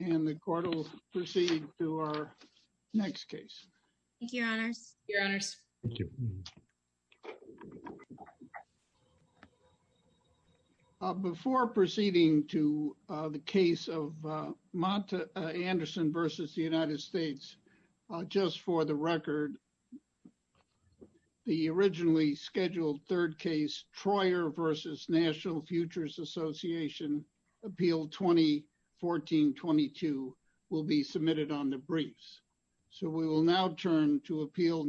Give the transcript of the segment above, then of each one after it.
and the court will proceed to our next case. Thank you, Your Honors. Thank you, Your Honors. Thank you. Before proceeding to the case of Monta Anderson v. United States, just for the record, the originally scheduled third case, Troyer v. National Futures Association, Appeal 2014-22 will be submitted on the briefs. So we will now turn to Appeal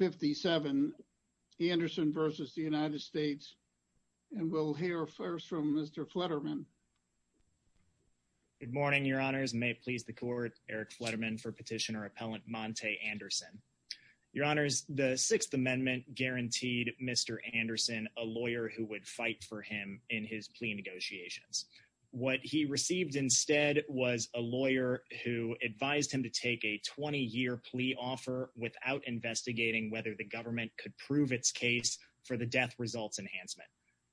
19-12-57, Anderson v. United States, and we'll hear first from Mr. Fletterman. Good morning, Your Honors. May it please the court, Eric Fletterman for petitioner-appellant Monta Anderson. Your Honors, the Sixth Amendment guaranteed Mr. Anderson a lawyer who would fight for him in his plea negotiations. What he received instead was a lawyer who advised him to take a 20-year plea offer without investigating whether the government could prove its case for the death results enhancement.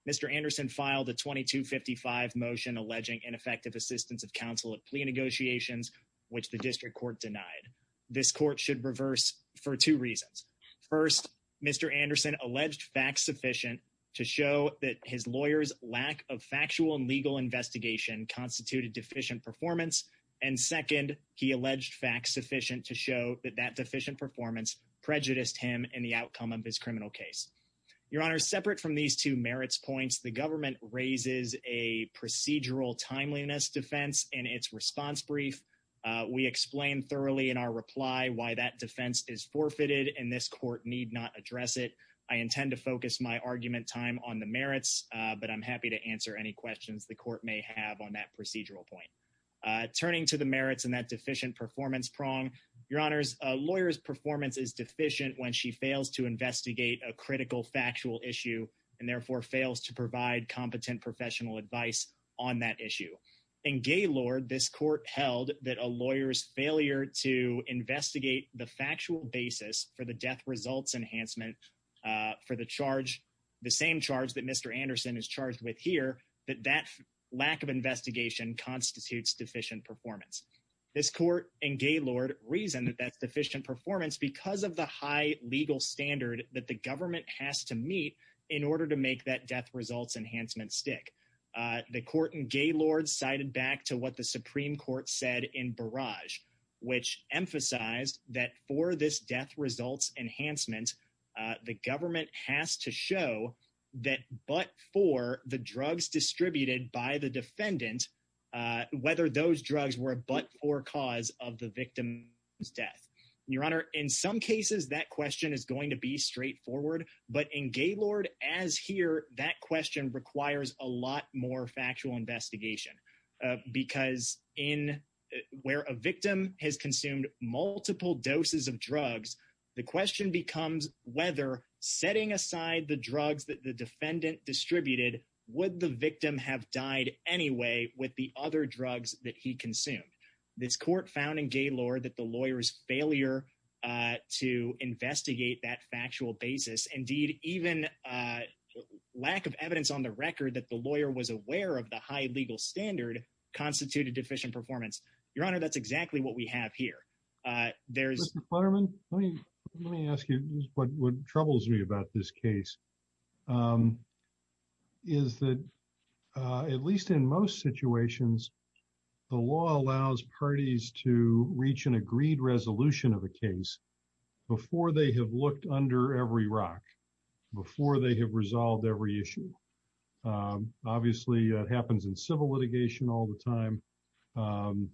Mr. Anderson filed a 22-55 motion alleging ineffective assistance of counsel at plea negotiations, which the district court denied. This court should reverse for two reasons. First, Mr. Anderson alleged facts sufficient to show that his lawyer's lack of factual and legal investigation constituted deficient performance. And second, he alleged facts sufficient to show that that deficient performance prejudiced him in the outcome of his criminal case. Your Honors, separate from these two merits points, the government raises a procedural timeliness defense in its response brief. We explained thoroughly in our reply why that defense is forfeited, and this court need not address it. I intend to focus my argument time on the merits, but I'm happy to answer any questions the court may have on that procedural point. Turning to the merits and that deficient performance prong, Your Honors, a lawyer's performance is deficient when she fails to investigate a critical factual issue, and therefore fails to provide competent professional advice on that issue. In Gaylord, this court held that a lawyer's failure to investigate the factual basis for the death results enhancement for the charge, the same charge that Mr. Anderson is charged with here, that that lack of investigation constitutes deficient performance. This court in Gaylord reasoned that that's deficient performance because of the high legal standard that the government has to meet in order to make that death results enhancement stick. The court in Gaylord cited back to what the Supreme Court said in Barrage, which emphasized that for this death results enhancement, the government has to show that but for the drugs distributed by the defendant, whether those drugs were a but for cause of the victim's death. Your Honor, in some cases, that question is going to be straightforward, but in Gaylord, as here, that question requires a lot more factual investigation because where a victim has consumed multiple doses of drugs, the question becomes whether setting aside the drugs that the defendant distributed, would the victim have died anyway with the other drugs that he consumed? This court found in Gaylord that the lawyer's failure to investigate that factual basis, indeed, even lack of evidence on the record that the lawyer was aware of the high legal standard constituted deficient performance. Your Honor, that's exactly what we have here. There's- Mr. Futterman, let me ask you what troubles me about this case is that at least in most situations, the law allows parties to reach an agreed resolution of a case before they have looked under every rock, before they have resolved every issue. Obviously, that happens in civil litigation all the time.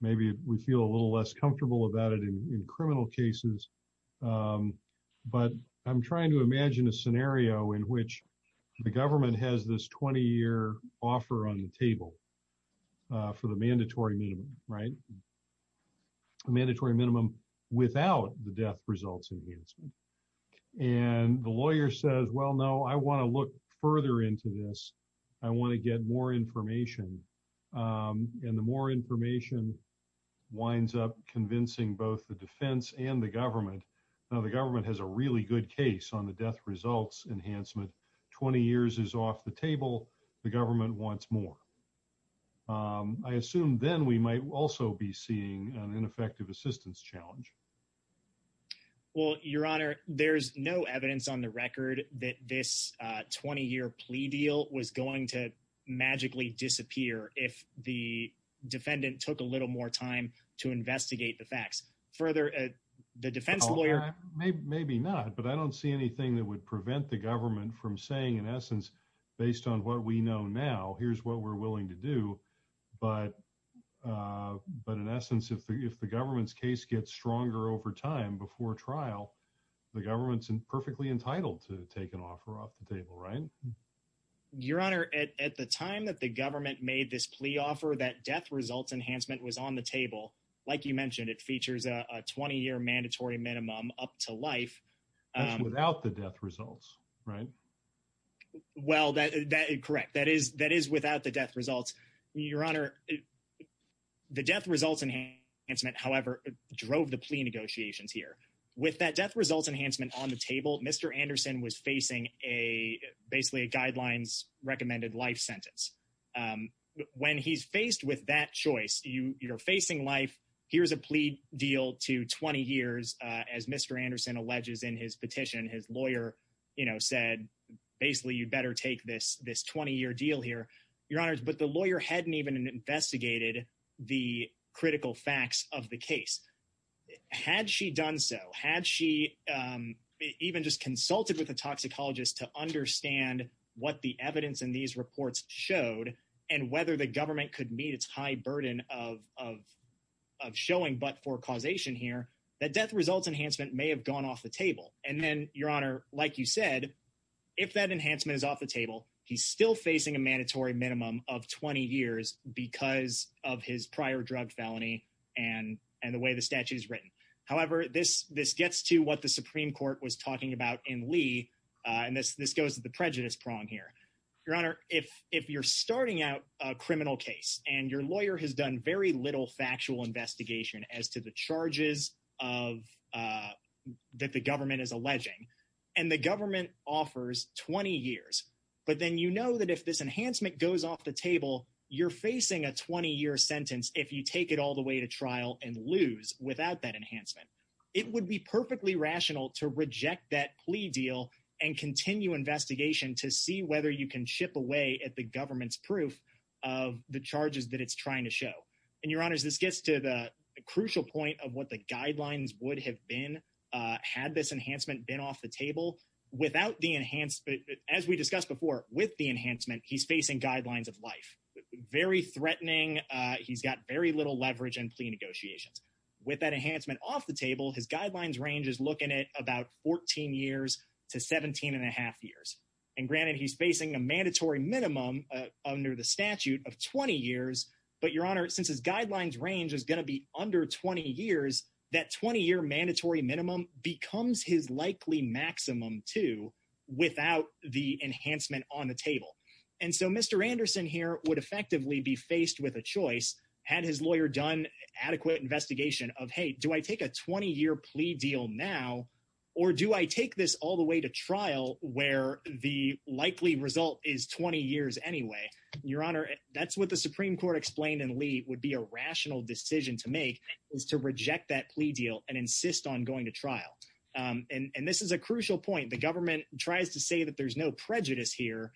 Maybe we feel a little less comfortable about it in criminal cases, but I'm trying to imagine a scenario in which the government has this 20-year offer on the table for the mandatory minimum, right? A mandatory minimum without the death results enhancement. And the lawyer says, well, no, I wanna look further into this. I wanna get more information. And the more information winds up convincing both the defense and the government. Now, the government has a really good case on the death results enhancement. 20 years is off the table. The government wants more. I assume then we might also be seeing an ineffective assistance challenge. Well, Your Honor, there's no evidence on the record that this 20-year plea deal was going to magically disappear if the defendant took a little more time to investigate the facts. Further, the defense lawyer- Maybe not, but I don't see anything that would prevent the government from saying, in essence, based on what we know now, here's what we're willing to do. But in essence, if the government's case gets stronger over time before trial, the government's perfectly entitled to take an offer off the table, right? Your Honor, at the time that the government made this plea offer, that death results enhancement was on the table. Like you mentioned, it features a 20-year mandatory minimum up to life. That's without the death results, right? Well, correct. That is without the death results. Your Honor, the death results enhancement, however, drove the plea negotiations here. With that death results enhancement on the table, Mr. Anderson was facing basically a guidelines-recommended life sentence. When he's faced with that choice, you're facing life, here's a plea deal to 20 years, as Mr. Anderson alleges in his petition. His lawyer said, basically, you'd better take this 20-year deal here. Your Honor, but the lawyer hadn't even investigated the critical facts of the case. Had she done so, had she even just consulted with a toxicologist to understand what the evidence in these reports showed and whether the government could meet its high burden of showing but for causation here, that death results enhancement may have gone off the table. And then, Your Honor, like you said, if that enhancement is off the table, he's still facing a mandatory minimum of 20 years because of his prior drug felony and the way the statute is written. However, this gets to what the Supreme Court was talking about in Lee, and this goes to the prejudice prong here. Your Honor, if you're starting out a criminal case and your lawyer has done very little factual investigation as to the charges that the government is alleging, and the government offers 20 years, but then you know that if this enhancement goes off the table, you're facing a 20-year sentence if you take it all the way to trial and lose without that enhancement. It would be perfectly rational to reject that plea deal and continue investigation to see whether you can chip away at the government's proof of the charges that it's trying to show. And Your Honors, this gets to the crucial point of what the guidelines would have been had this enhancement been off the table. Without the enhancement, as we discussed before, with the enhancement, he's facing guidelines of life. Very threatening. He's got very little leverage in plea negotiations. With that enhancement off the table, his guidelines range is looking at about 14 years to 17 and a half years. And granted, he's facing a mandatory minimum under the statute of 20 years, but Your Honor, since his guidelines range is gonna be under 20 years, that 20-year mandatory minimum becomes his likely maximum too without the enhancement on the table. And so Mr. Anderson here would effectively be faced with a choice had his lawyer done adequate investigation of, hey, do I take a 20-year plea deal now or do I take this all the way to trial where the likely result is 20 years anyway? Your Honor, that's what the Supreme Court explained and Lee would be a rational decision to make is to reject that plea deal and insist on going to trial. And this is a crucial point. The government tries to say that there's no prejudice here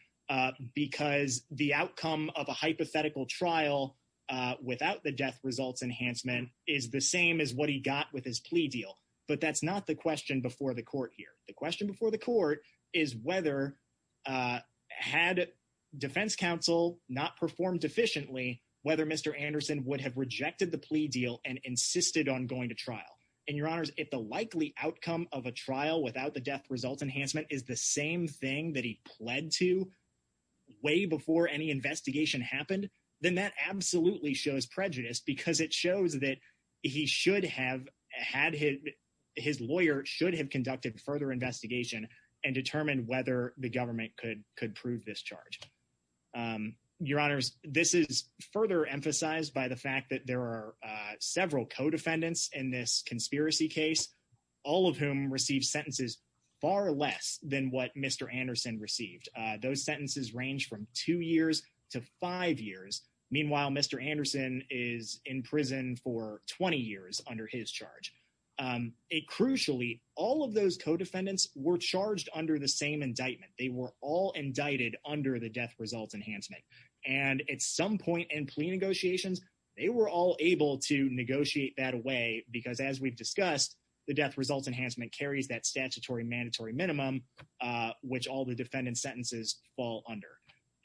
because the outcome of a hypothetical trial without the death results enhancement is the same as what he got with his plea deal. But that's not the question before the court here. The question before the court is whether, had defense counsel not performed efficiently, whether Mr. Anderson would have rejected the plea deal and insisted on going to trial. And Your Honors, if the likely outcome of a trial without the death results enhancement is the same thing that he pled to way before any investigation happened, then that absolutely shows prejudice because it shows that he should have had his, his lawyer should have conducted further investigation and determined whether the government could prove this charge. Your Honors, this is further emphasized by the fact that there are several co-defendants in this conspiracy case, all of whom received sentences far less than what Mr. Anderson received. Those sentences range from two years to five years. Meanwhile, Mr. Anderson is in prison for 20 years under his charge. It crucially, all of those co-defendants were charged under the same indictment. They were all indicted under the death results enhancement. And at some point in plea negotiations, they were all able to negotiate that away because as we've discussed, the death results enhancement carries that statutory mandatory minimum, which all the defendant's sentences fall under.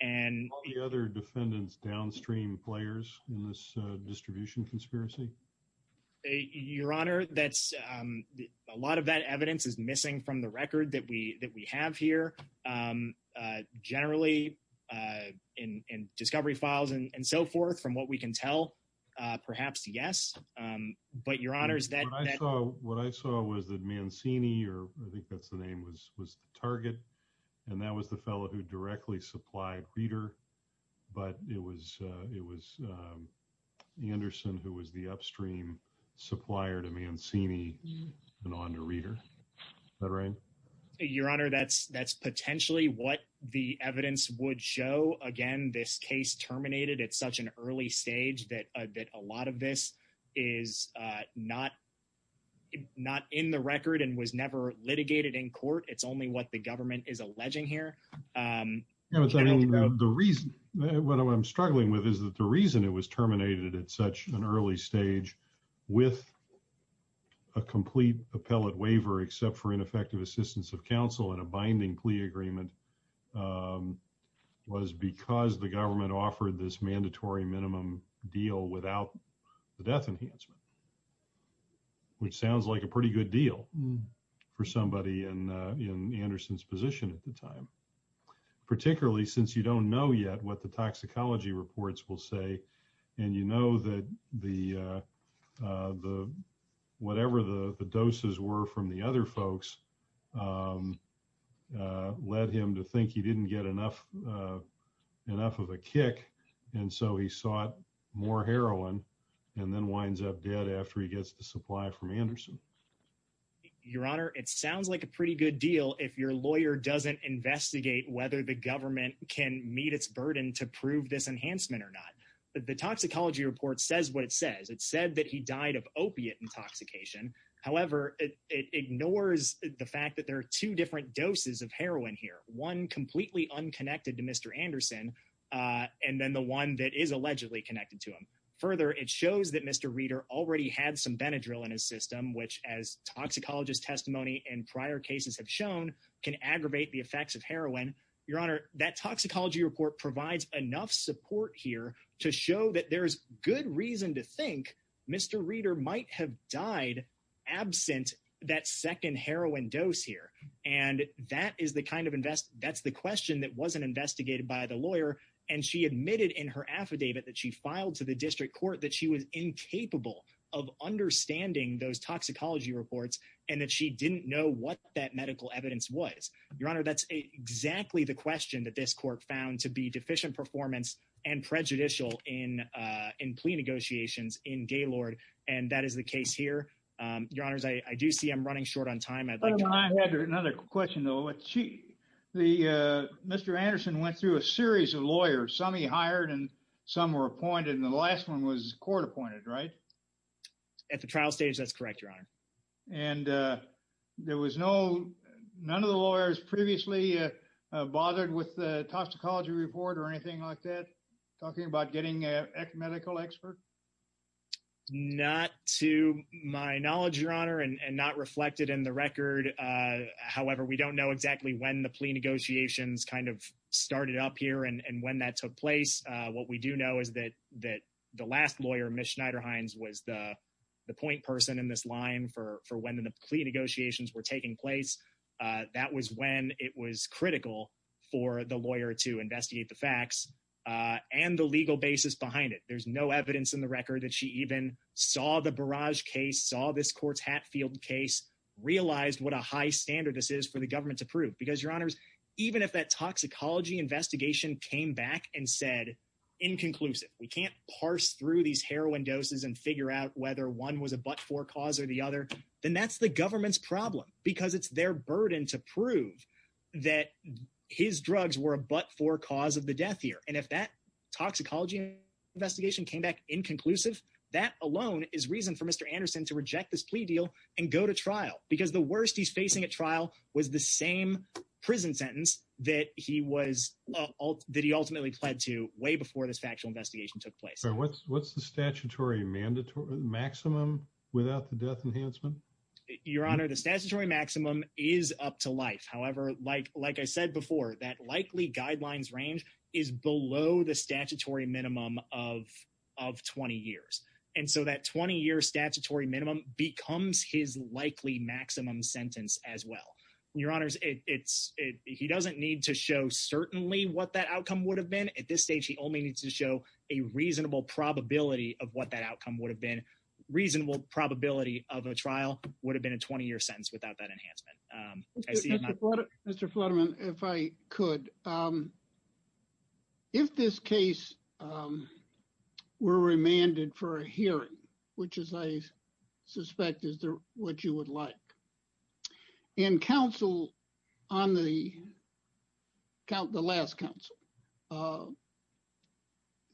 And- All the other defendants downstream players in this distribution conspiracy? Your Honor, that's, a lot of that evidence is missing from the record that we have here. Generally, in discovery files and so forth, from what we can tell, perhaps yes. But Your Honor, is that- What I saw was that Mancini, or I think that's the name, was the target. And that was the fellow who directly supplied Reeder. But it was Anderson who was the upstream supplier to Mancini and onto Reeder. Is that right? Your Honor, that's potentially what the evidence would show. Again, this case terminated at such an early stage that a lot of this is not in the record and was never litigated in court. It's only what the government is alleging here. Your Honor, the reason, what I'm struggling with is that the reason it was terminated at such an early stage with a complete appellate waiver, except for ineffective assistance of counsel and a binding plea agreement, was because the government offered this mandatory minimum deal without the death enhancement, which sounds like a pretty good deal for somebody in Anderson's position at the time, particularly since you don't know yet what the toxicology reports will say. And you know that whatever the doses were from the other folks led him to think he didn't get enough of a kick. And so he sought more heroin and then winds up dead after he gets the supply from Anderson. Your Honor, it sounds like a pretty good deal if your lawyer doesn't investigate whether the government can meet its burden to prove this enhancement or not. The toxicology report says what it says. It said that he died of opiate intoxication. However, it ignores the fact that there are two different doses of heroin here. One completely unconnected to Mr. Anderson, and then the one that is allegedly connected to him. Further, it shows that Mr. Reeder already had some Benadryl in his system, which as toxicologist testimony in prior cases have shown, can aggravate the effects of heroin. Your Honor, that toxicology report provides enough support here to show that there's good reason to think Mr. Reeder might have died absent that second heroin dose here. And that's the question that wasn't investigated by the lawyer. And she admitted in her affidavit that she filed to the district court that she was incapable of understanding those toxicology reports, and that she didn't know what that medical evidence was. Your Honor, that's exactly the question that this court found to be deficient performance and prejudicial in plea negotiations in Gaylord. And that is the case here. Your Honors, I do see I'm running short on time. I had another question though. Mr. Anderson went through a series of lawyers. Some he hired and some were appointed, and the last one was court appointed, right? At the trial stage, that's correct, Your Honor. And there was no, none of the lawyers previously bothered with the toxicology report or anything like that? Talking about getting a medical expert? Not to my knowledge, Your Honor, and not reflected in the record. However, we don't know exactly when the plea negotiations kind of started up here and when that took place. What we do know is that the last lawyer, Ms. Schneiderhines, was the point person in this line for when the plea negotiations were taking place. That was when it was critical for the lawyer to investigate the facts and the legal basis behind it. There's no evidence in the record that she even saw the barrage case, saw this court's Hatfield case, realized what a high standard this is for the government to prove. Because, Your Honors, even if that toxicology investigation came back and said, inconclusive, we can't parse through these heroin doses and figure out whether one was a but-for cause or the other, then that's the government's problem because it's their burden to prove that his drugs were a but-for cause of the death here. And if that toxicology investigation came back inconclusive, that alone is reason for Mr. Anderson to reject this plea deal and go to trial because the worst he's facing at trial was the same prison sentence that he ultimately pled to way before this factual investigation took place. What's the statutory maximum without the death enhancement? Your Honor, the statutory maximum is up to life. However, like I said before, that likely guidelines range is below the statutory minimum of 20 years. And so that 20-year statutory minimum becomes his likely maximum sentence as well. Your Honors, he doesn't need to show certainly what that outcome would have been. At this stage, he only needs to show a reasonable probability of what that outcome would have been. Reasonable probability of a trial would have been a 20-year sentence without that enhancement. I see- Mr. Flutterman, if I could, if this case were remanded for a hearing, which is I suspect is what you would like, and counsel on the last counsel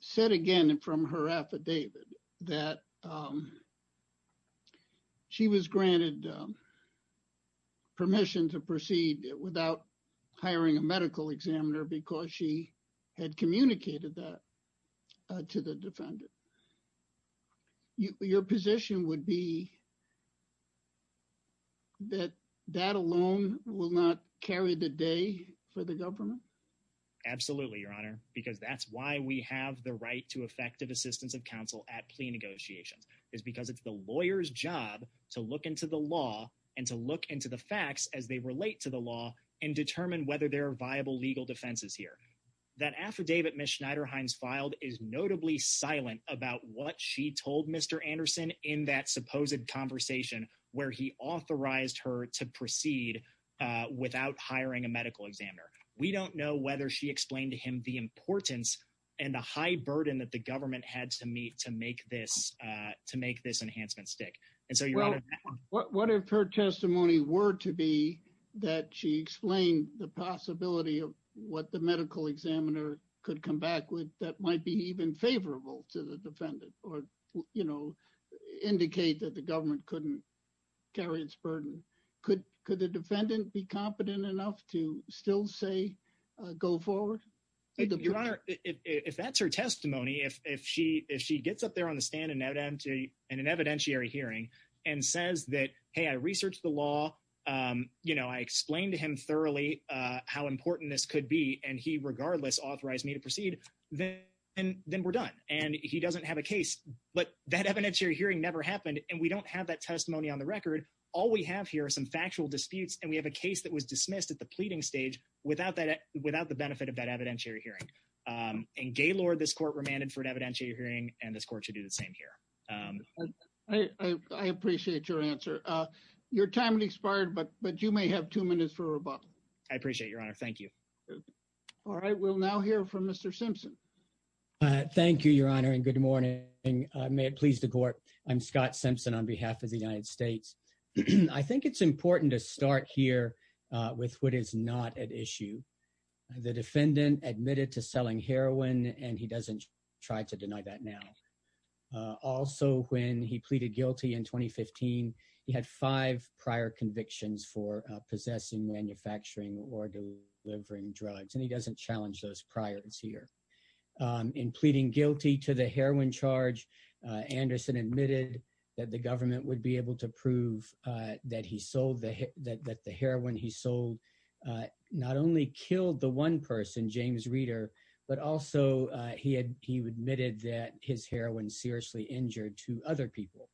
said again from her affidavit that she was granted permission to proceed without hiring a medical examiner because she had communicated that to the defendant. Your position would be that that alone will not carry the day for the government? Absolutely, Your Honor, because that's why we have the right to effective assistance of counsel at plea negotiations is because it's the lawyer's job to look into the law and to look into the facts as they relate to the law and determine whether there are viable legal defenses here. That affidavit Ms. Schneider-Hines filed is notably silent about what she told Mr. Anderson in that supposed conversation where he authorized her to proceed without hiring a medical examiner. We don't know whether she explained to him the importance and the high burden that the government had to meet to make this enhancement stick. And so, Your Honor- What if her testimony were to be that she explained the possibility of what the medical examiner could come back with that might be even favorable to the defendant or indicate that the government couldn't carry its burden? Could the defendant be competent enough to still say, go forward? Your Honor, if that's her testimony, if she gets up there on the stand in an evidentiary hearing and says that, hey, I researched the law, I explained to him thoroughly how important this could be and he regardless authorized me to proceed, then we're done. And he doesn't have a case, but that evidentiary hearing never happened and we don't have that testimony on the record. All we have here are some factual disputes and we have a case that was dismissed at the pleading stage without the benefit of that evidentiary hearing. In Gaylord, this court remanded for an evidentiary hearing and this court should do the same here. I appreciate your answer. Your time has expired, but you may have two minutes for rebuttal. I appreciate it, Your Honor. Thank you. All right, we'll now hear from Mr. Simpson. Thank you, Your Honor, and good morning. May it please the court. I'm Scott Simpson on behalf of the United States. I think it's important to start here with what is not at issue. The defendant admitted to selling heroin and he doesn't try to deny that now. Also, when he pleaded guilty in 2015, he had five prior convictions for possessing, manufacturing, or delivering drugs, and he doesn't challenge those priors here. In pleading guilty to the heroin charge, Anderson admitted that the government would be able to prove that the heroin he sold not only killed the one person, James Reader, but also he admitted that his heroin seriously injured two other people.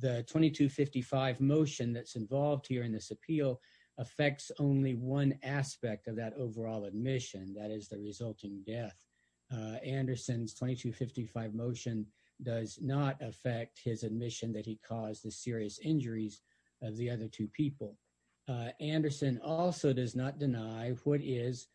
The 2255 motion that's involved here in this appeal affects only one aspect of that overall admission, that is the resulting death. Anderson's 2255 motion does not affect his admission that he caused the serious injuries of the other two people. Anderson also does not deny what is,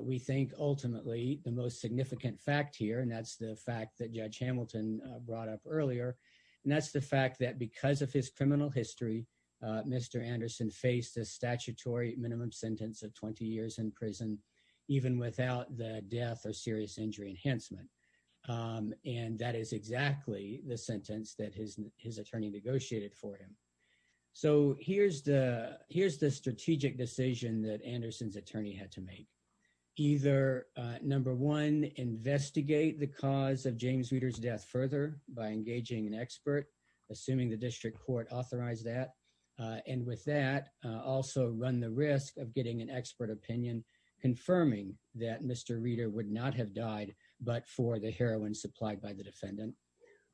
we think, ultimately, the most significant fact here, and that's the fact that Judge Hamilton brought up earlier, and that's the fact that because of his criminal history, Mr. Anderson faced a statutory minimum sentence of 20 years in prison, even without the death or serious injury enhancement. And that is exactly the sentence that his attorney negotiated for him. So here's the strategic decision that Anderson's attorney had to make. Either, number one, investigate the cause of James Reader's death further by engaging an expert, assuming the district court authorized that, and with that, also run the risk of getting an expert opinion, confirming that Mr. Reader would not have died, but for the heroin supplied by the defendant,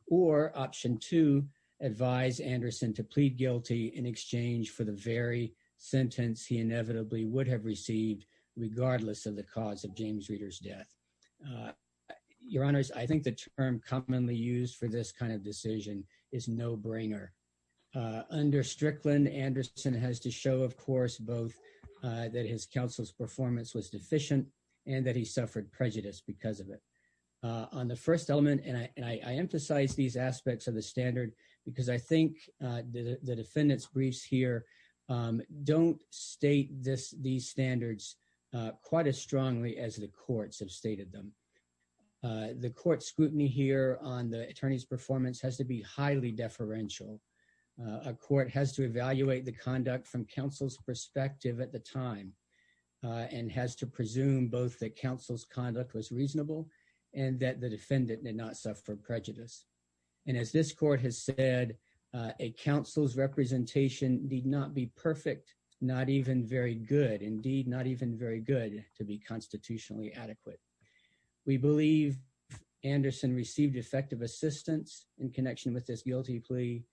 or option two, advise Anderson to plead guilty in exchange for the very sentence he inevitably would have received, regardless of the cause of James Reader's death. Your Honors, I think the term commonly used for this kind of decision is no-brainer. Under Strickland, Anderson has to show, of course, both that his counsel's performance was deficient and that he suffered prejudice because of it. On the first element, and I emphasize these aspects of the standard because I think the defendant's briefs here don't state these standards quite as strongly as the courts have stated them. The court scrutiny here on the attorney's performance has to be highly deferential. A court has to evaluate the conduct from counsel's perspective at the time, and has to presume both that counsel's conduct was reasonable and that the defendant did not suffer prejudice. And as this court has said, a counsel's representation did not be perfect, not even very good. Indeed, not even very good to be constitutionally adequate. We believe Anderson received effective assistance in connection with this guilty plea,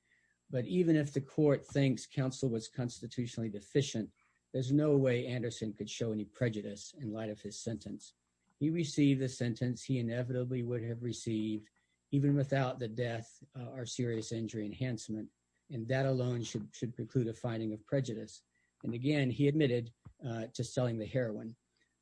but even if the court thinks counsel was constitutionally deficient, there's no way Anderson could show any prejudice in light of his sentence. He received the sentence he inevitably would have received even without the death or serious injury enhancement, and that alone should preclude a finding of prejudice. And again, he admitted to selling the heroin,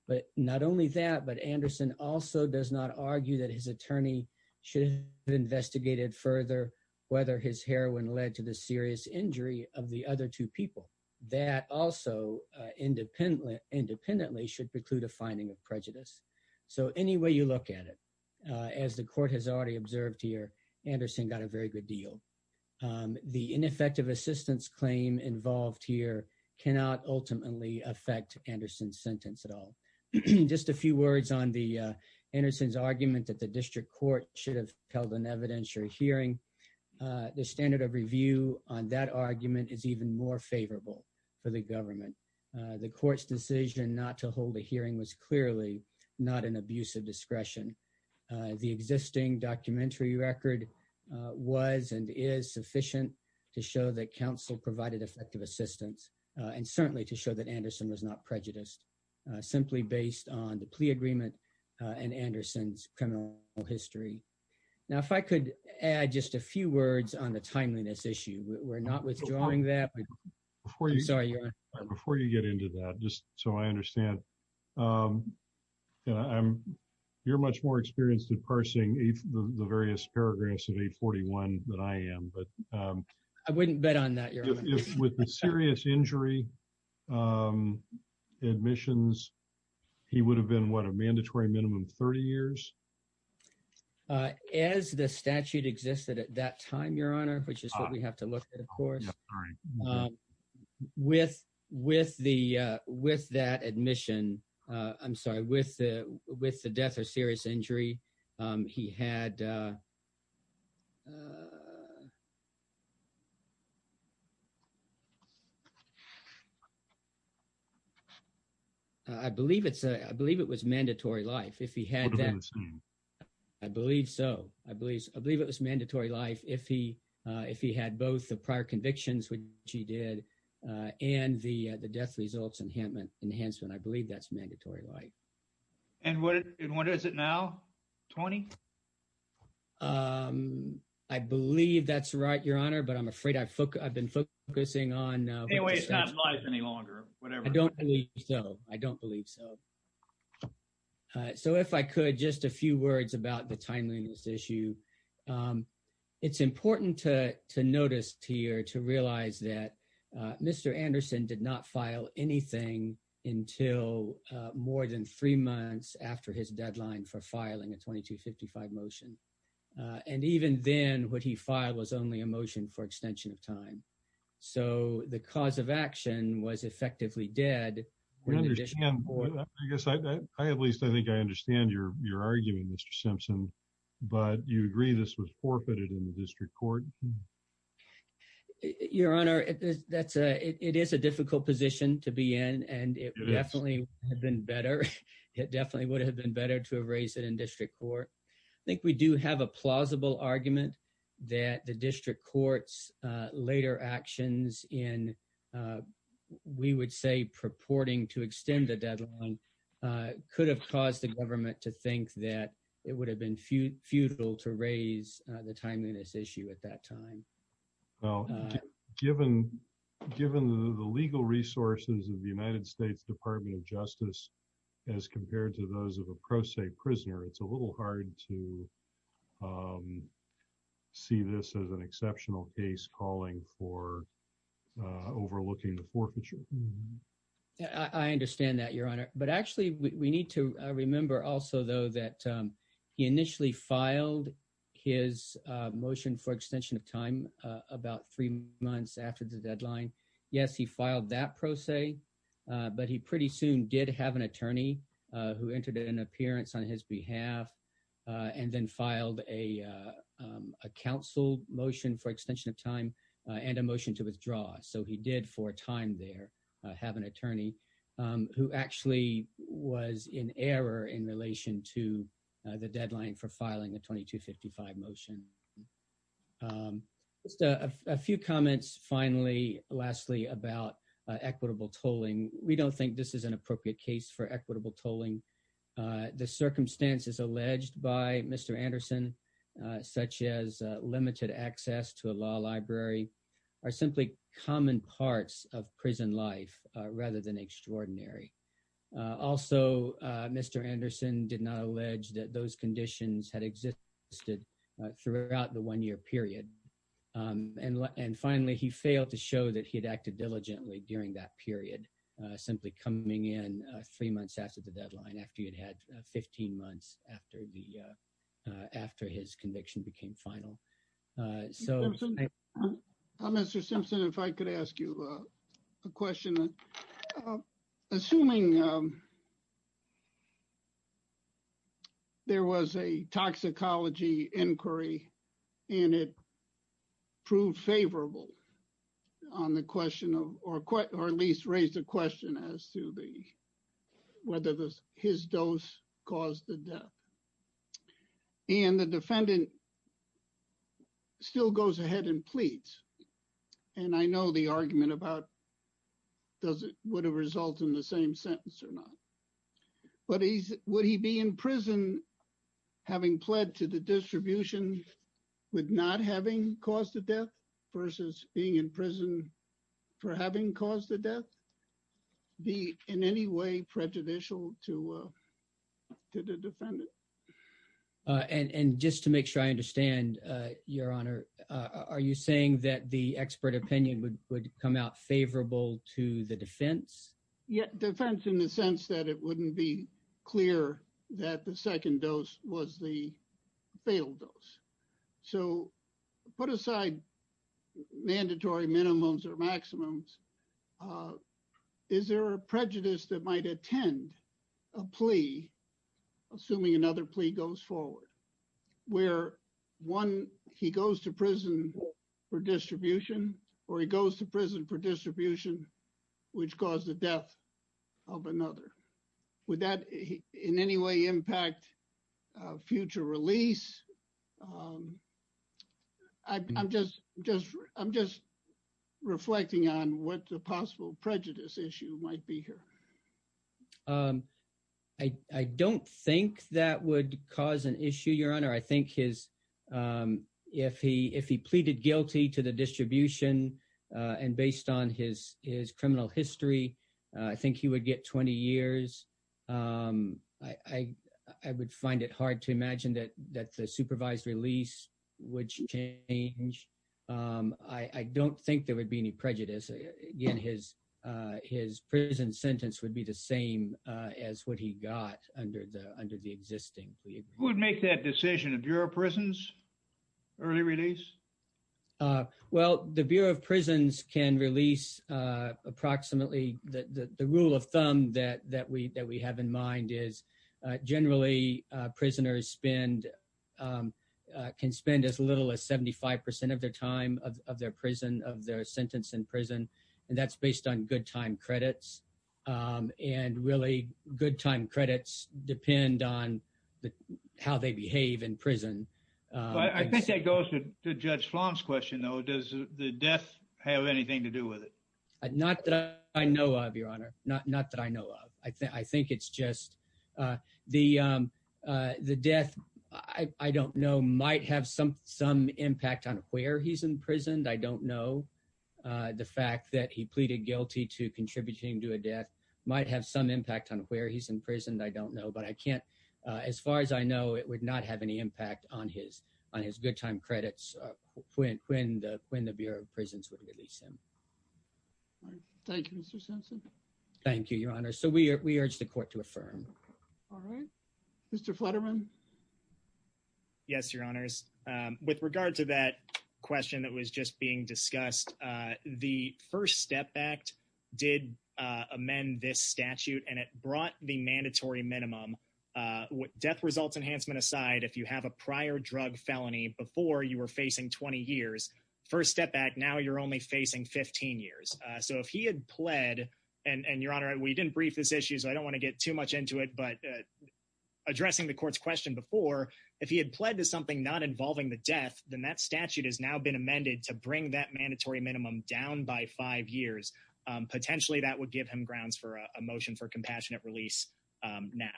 but not only that, but Anderson also does not argue that his attorney should have investigated further whether his heroin led to the serious injury of the other two people. That also independently should preclude a finding of prejudice. So any way you look at it, as the court has already observed here, Anderson got a very good deal. The ineffective assistance claim involved here cannot ultimately affect Anderson's sentence at all. Just a few words on the Anderson's argument that the district court should have held an evidentiary hearing. The standard of review on that argument The court's decision not to hold a hearing was clearly not an abuse of discretion. The existing documentary record was and is sufficient to show that counsel provided effective assistance and certainly to show that Anderson was not prejudiced simply based on the plea agreement and Anderson's criminal history. Now, if I could add just a few words on the timeliness issue. We're not withdrawing that, but I'm sorry. Before you get into that, just so I understand, you're much more experienced at parsing the various paragraphs of 841 than I am, but- I wouldn't bet on that, Your Honor. With the serious injury admissions, he would have been what? A mandatory minimum of 30 years? As the statute existed at that time, Your Honor, which is what we have to look at, of course. Yeah, sorry. With that admission, I'm sorry, with the death or serious injury, he had... I believe it was mandatory life. If he had that- What about his name? I believe so. I believe it was mandatory life if he had both the prior convictions, which he did, and the death results enhancement. I believe that's mandatory life. And what is it now? 20? I believe that's right, Your Honor, but I'm afraid I've been focusing on- Anyway, it's not life any longer, whatever. I don't believe so. I don't believe so. So if I could, just a few words about the timeliness issue. It's important to notice here, to realize that Mr. Anderson did not file anything until more than three months after his deadline for filing a 2255 motion. And even then, what he filed was only a motion for extension of time. So the cause of action was effectively dead. We understand, I guess, at least I think I understand your argument, Mr. Simpson, but you agree this was forfeited in the district court? Your Honor, it is a difficult position to be in, and it definitely would have been better. It definitely would have been better to have raised it in district court. I think we do have a plausible argument that the district court's later actions in, we would say purporting to extend the deadline, could have caused the government to think that it would have been futile to raise the timeliness issue at that time. Well, given the legal resources of the United States Department of Justice, as compared to those of a pro se prisoner, it's a little hard to see this as an exceptional case calling for overlooking the forfeiture. I understand that, Your Honor. But actually we need to remember also though that he initially filed his motion for extension of time about three months after the deadline. Yes, he filed that pro se, but he pretty soon did have an attorney who entered an appearance on his behalf, and then filed a counsel motion for extension of time and a motion to withdraw. So he did for a time there have an attorney who actually was in error in relation to the deadline for filing a 2255 motion. Just a few comments finally, lastly about equitable tolling. We don't think this is an appropriate case for equitable tolling. The circumstances alleged by Mr. Anderson, such as limited access to a law library are simply common parts of prison life rather than extraordinary. Also, Mr. Anderson did not allege that those conditions had existed throughout the one year period. And finally, he failed to show that he had acted diligently during that period, simply coming in three months after the deadline after you'd had 15 months after his conviction became final. So thank you. Mr. Simpson, if I could ask you a question. Assuming there was a toxicology inquiry and it proved favorable on the question or at least raised a question as to whether his dose caused the death. And the defendant still goes ahead and pleads. And I know the argument about does it would have result in the same sentence or not. But would he be in prison having pled to the distribution with not having caused the death versus being in prison for having caused the death be in any way prejudicial to the defendant? And just to make sure I understand your honor, are you saying that the expert opinion would come out favorable to the defense? Yeah, defense in the sense that it wouldn't be clear that the second dose was the failed dose. So put aside mandatory minimums or maximums is there a prejudice that might attend a plea assuming another plea goes forward where one he goes to prison for distribution or he goes to prison for distribution which caused the death of another. Would that in any way impact future release? I'm just reflecting on what the possible prejudice issue might be here. I don't think that would cause an issue, your honor. I think if he pleaded guilty to the distribution and based on his criminal history, I think he would get 20 years. I would find it hard to imagine that the supervised release would change. I don't think there would be any prejudice. Again, his prison sentence would be the same as what he got under the existing plea. Who would make that decision? The Bureau of Prisons, early release? Well, the Bureau of Prisons can release approximately the rule of thumb that we have in mind is generally prisoners can spend as little as 75% of their time of their prison, of their sentence in prison. And that's based on good time credits and really good time credits depend on how they behave in prison. I think that goes to Judge Flom's question though. Does the death have anything to do with it? Not that I know of, your honor, not that I know of. I think it's just the death, I don't know, might have some impact on where he's in prison, I don't know. The fact that he pleaded guilty to contributing to a death might have some impact on where he's in prison, I don't know. But I can't, as far as I know, it would not have any impact on his good time credits when the Bureau of Prisons would release him. Thank you, Mr. Simpson. Thank you, your honor. So we urge the court to affirm. All right, Mr. Flutterman. Yes, your honors. With regard to that question that was just being discussed, the First Step Act did amend this statute and it brought the mandatory minimum. Death results enhancement aside, if you have a prior drug felony before you were facing 20 years, First Step Act, now you're only facing 15 years. So if he had pled, and your honor, we didn't brief this issue, so I don't wanna get too much into it, but addressing the court's question before, if he had pled to something not involving the death, then that statute has now been amended to bring that mandatory minimum down by five years. Potentially that would give him grounds for a motion for compassionate release now.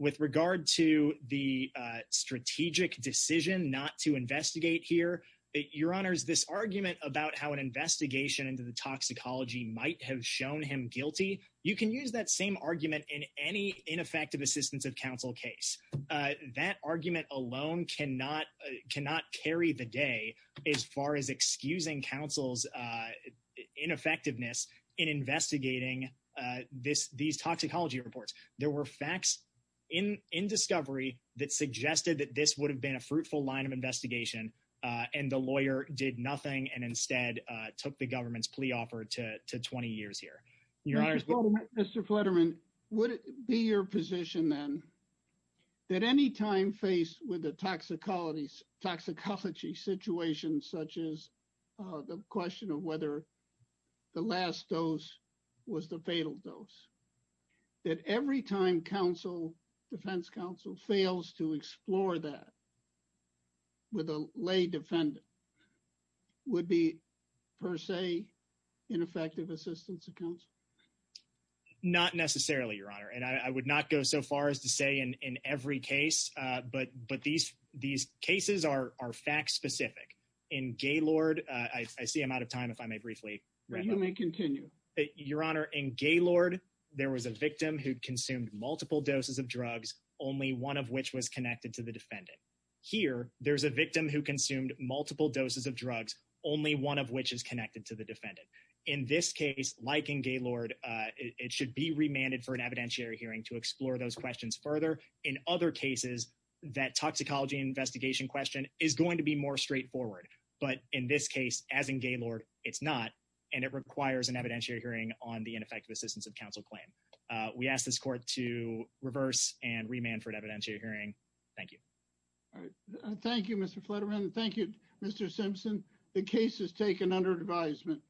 With regard to the strategic decision not to investigate here, your honors, this argument about how an investigation into the toxicology might have shown him guilty, you can use that same argument in any ineffective assistance of counsel case. That argument alone cannot carry the day as far as excusing counsel's ineffectiveness in investigating these toxicology reports. There were facts in discovery that suggested that this would have been a fruitful line of investigation and the lawyer did nothing and instead took the government's plea offer to 20 years here. Your honors. Mr. Fletterman, would it be your position then that any time faced with a toxicology situation such as the question of whether the last dose was the fatal dose, that every time defense counsel fails to explore that with a lay defendant would be per se ineffective assistance of counsel? Not necessarily, your honor. And I would not go so far as to say in every case, but these cases are fact specific. In Gaylord, I see I'm out of time if I may briefly. You may continue. Your honor, in Gaylord, there was a victim who consumed multiple doses of drugs, only one of which was connected to the defendant. Here, there's a victim who consumed multiple doses of drugs, only one of which is connected to the defendant. In this case, like in Gaylord, it should be remanded for an evidentiary hearing to explore those questions further. In other cases, that toxicology investigation question is going to be more straightforward. But in this case, as in Gaylord, it's not, and it requires an evidentiary hearing on the ineffective assistance of counsel claim. We ask this court to reverse and remand for an evidentiary hearing. Thank you. All right. Thank you, Mr. Fletterman. Thank you, Mr. Simpson. The case is taken under advisement.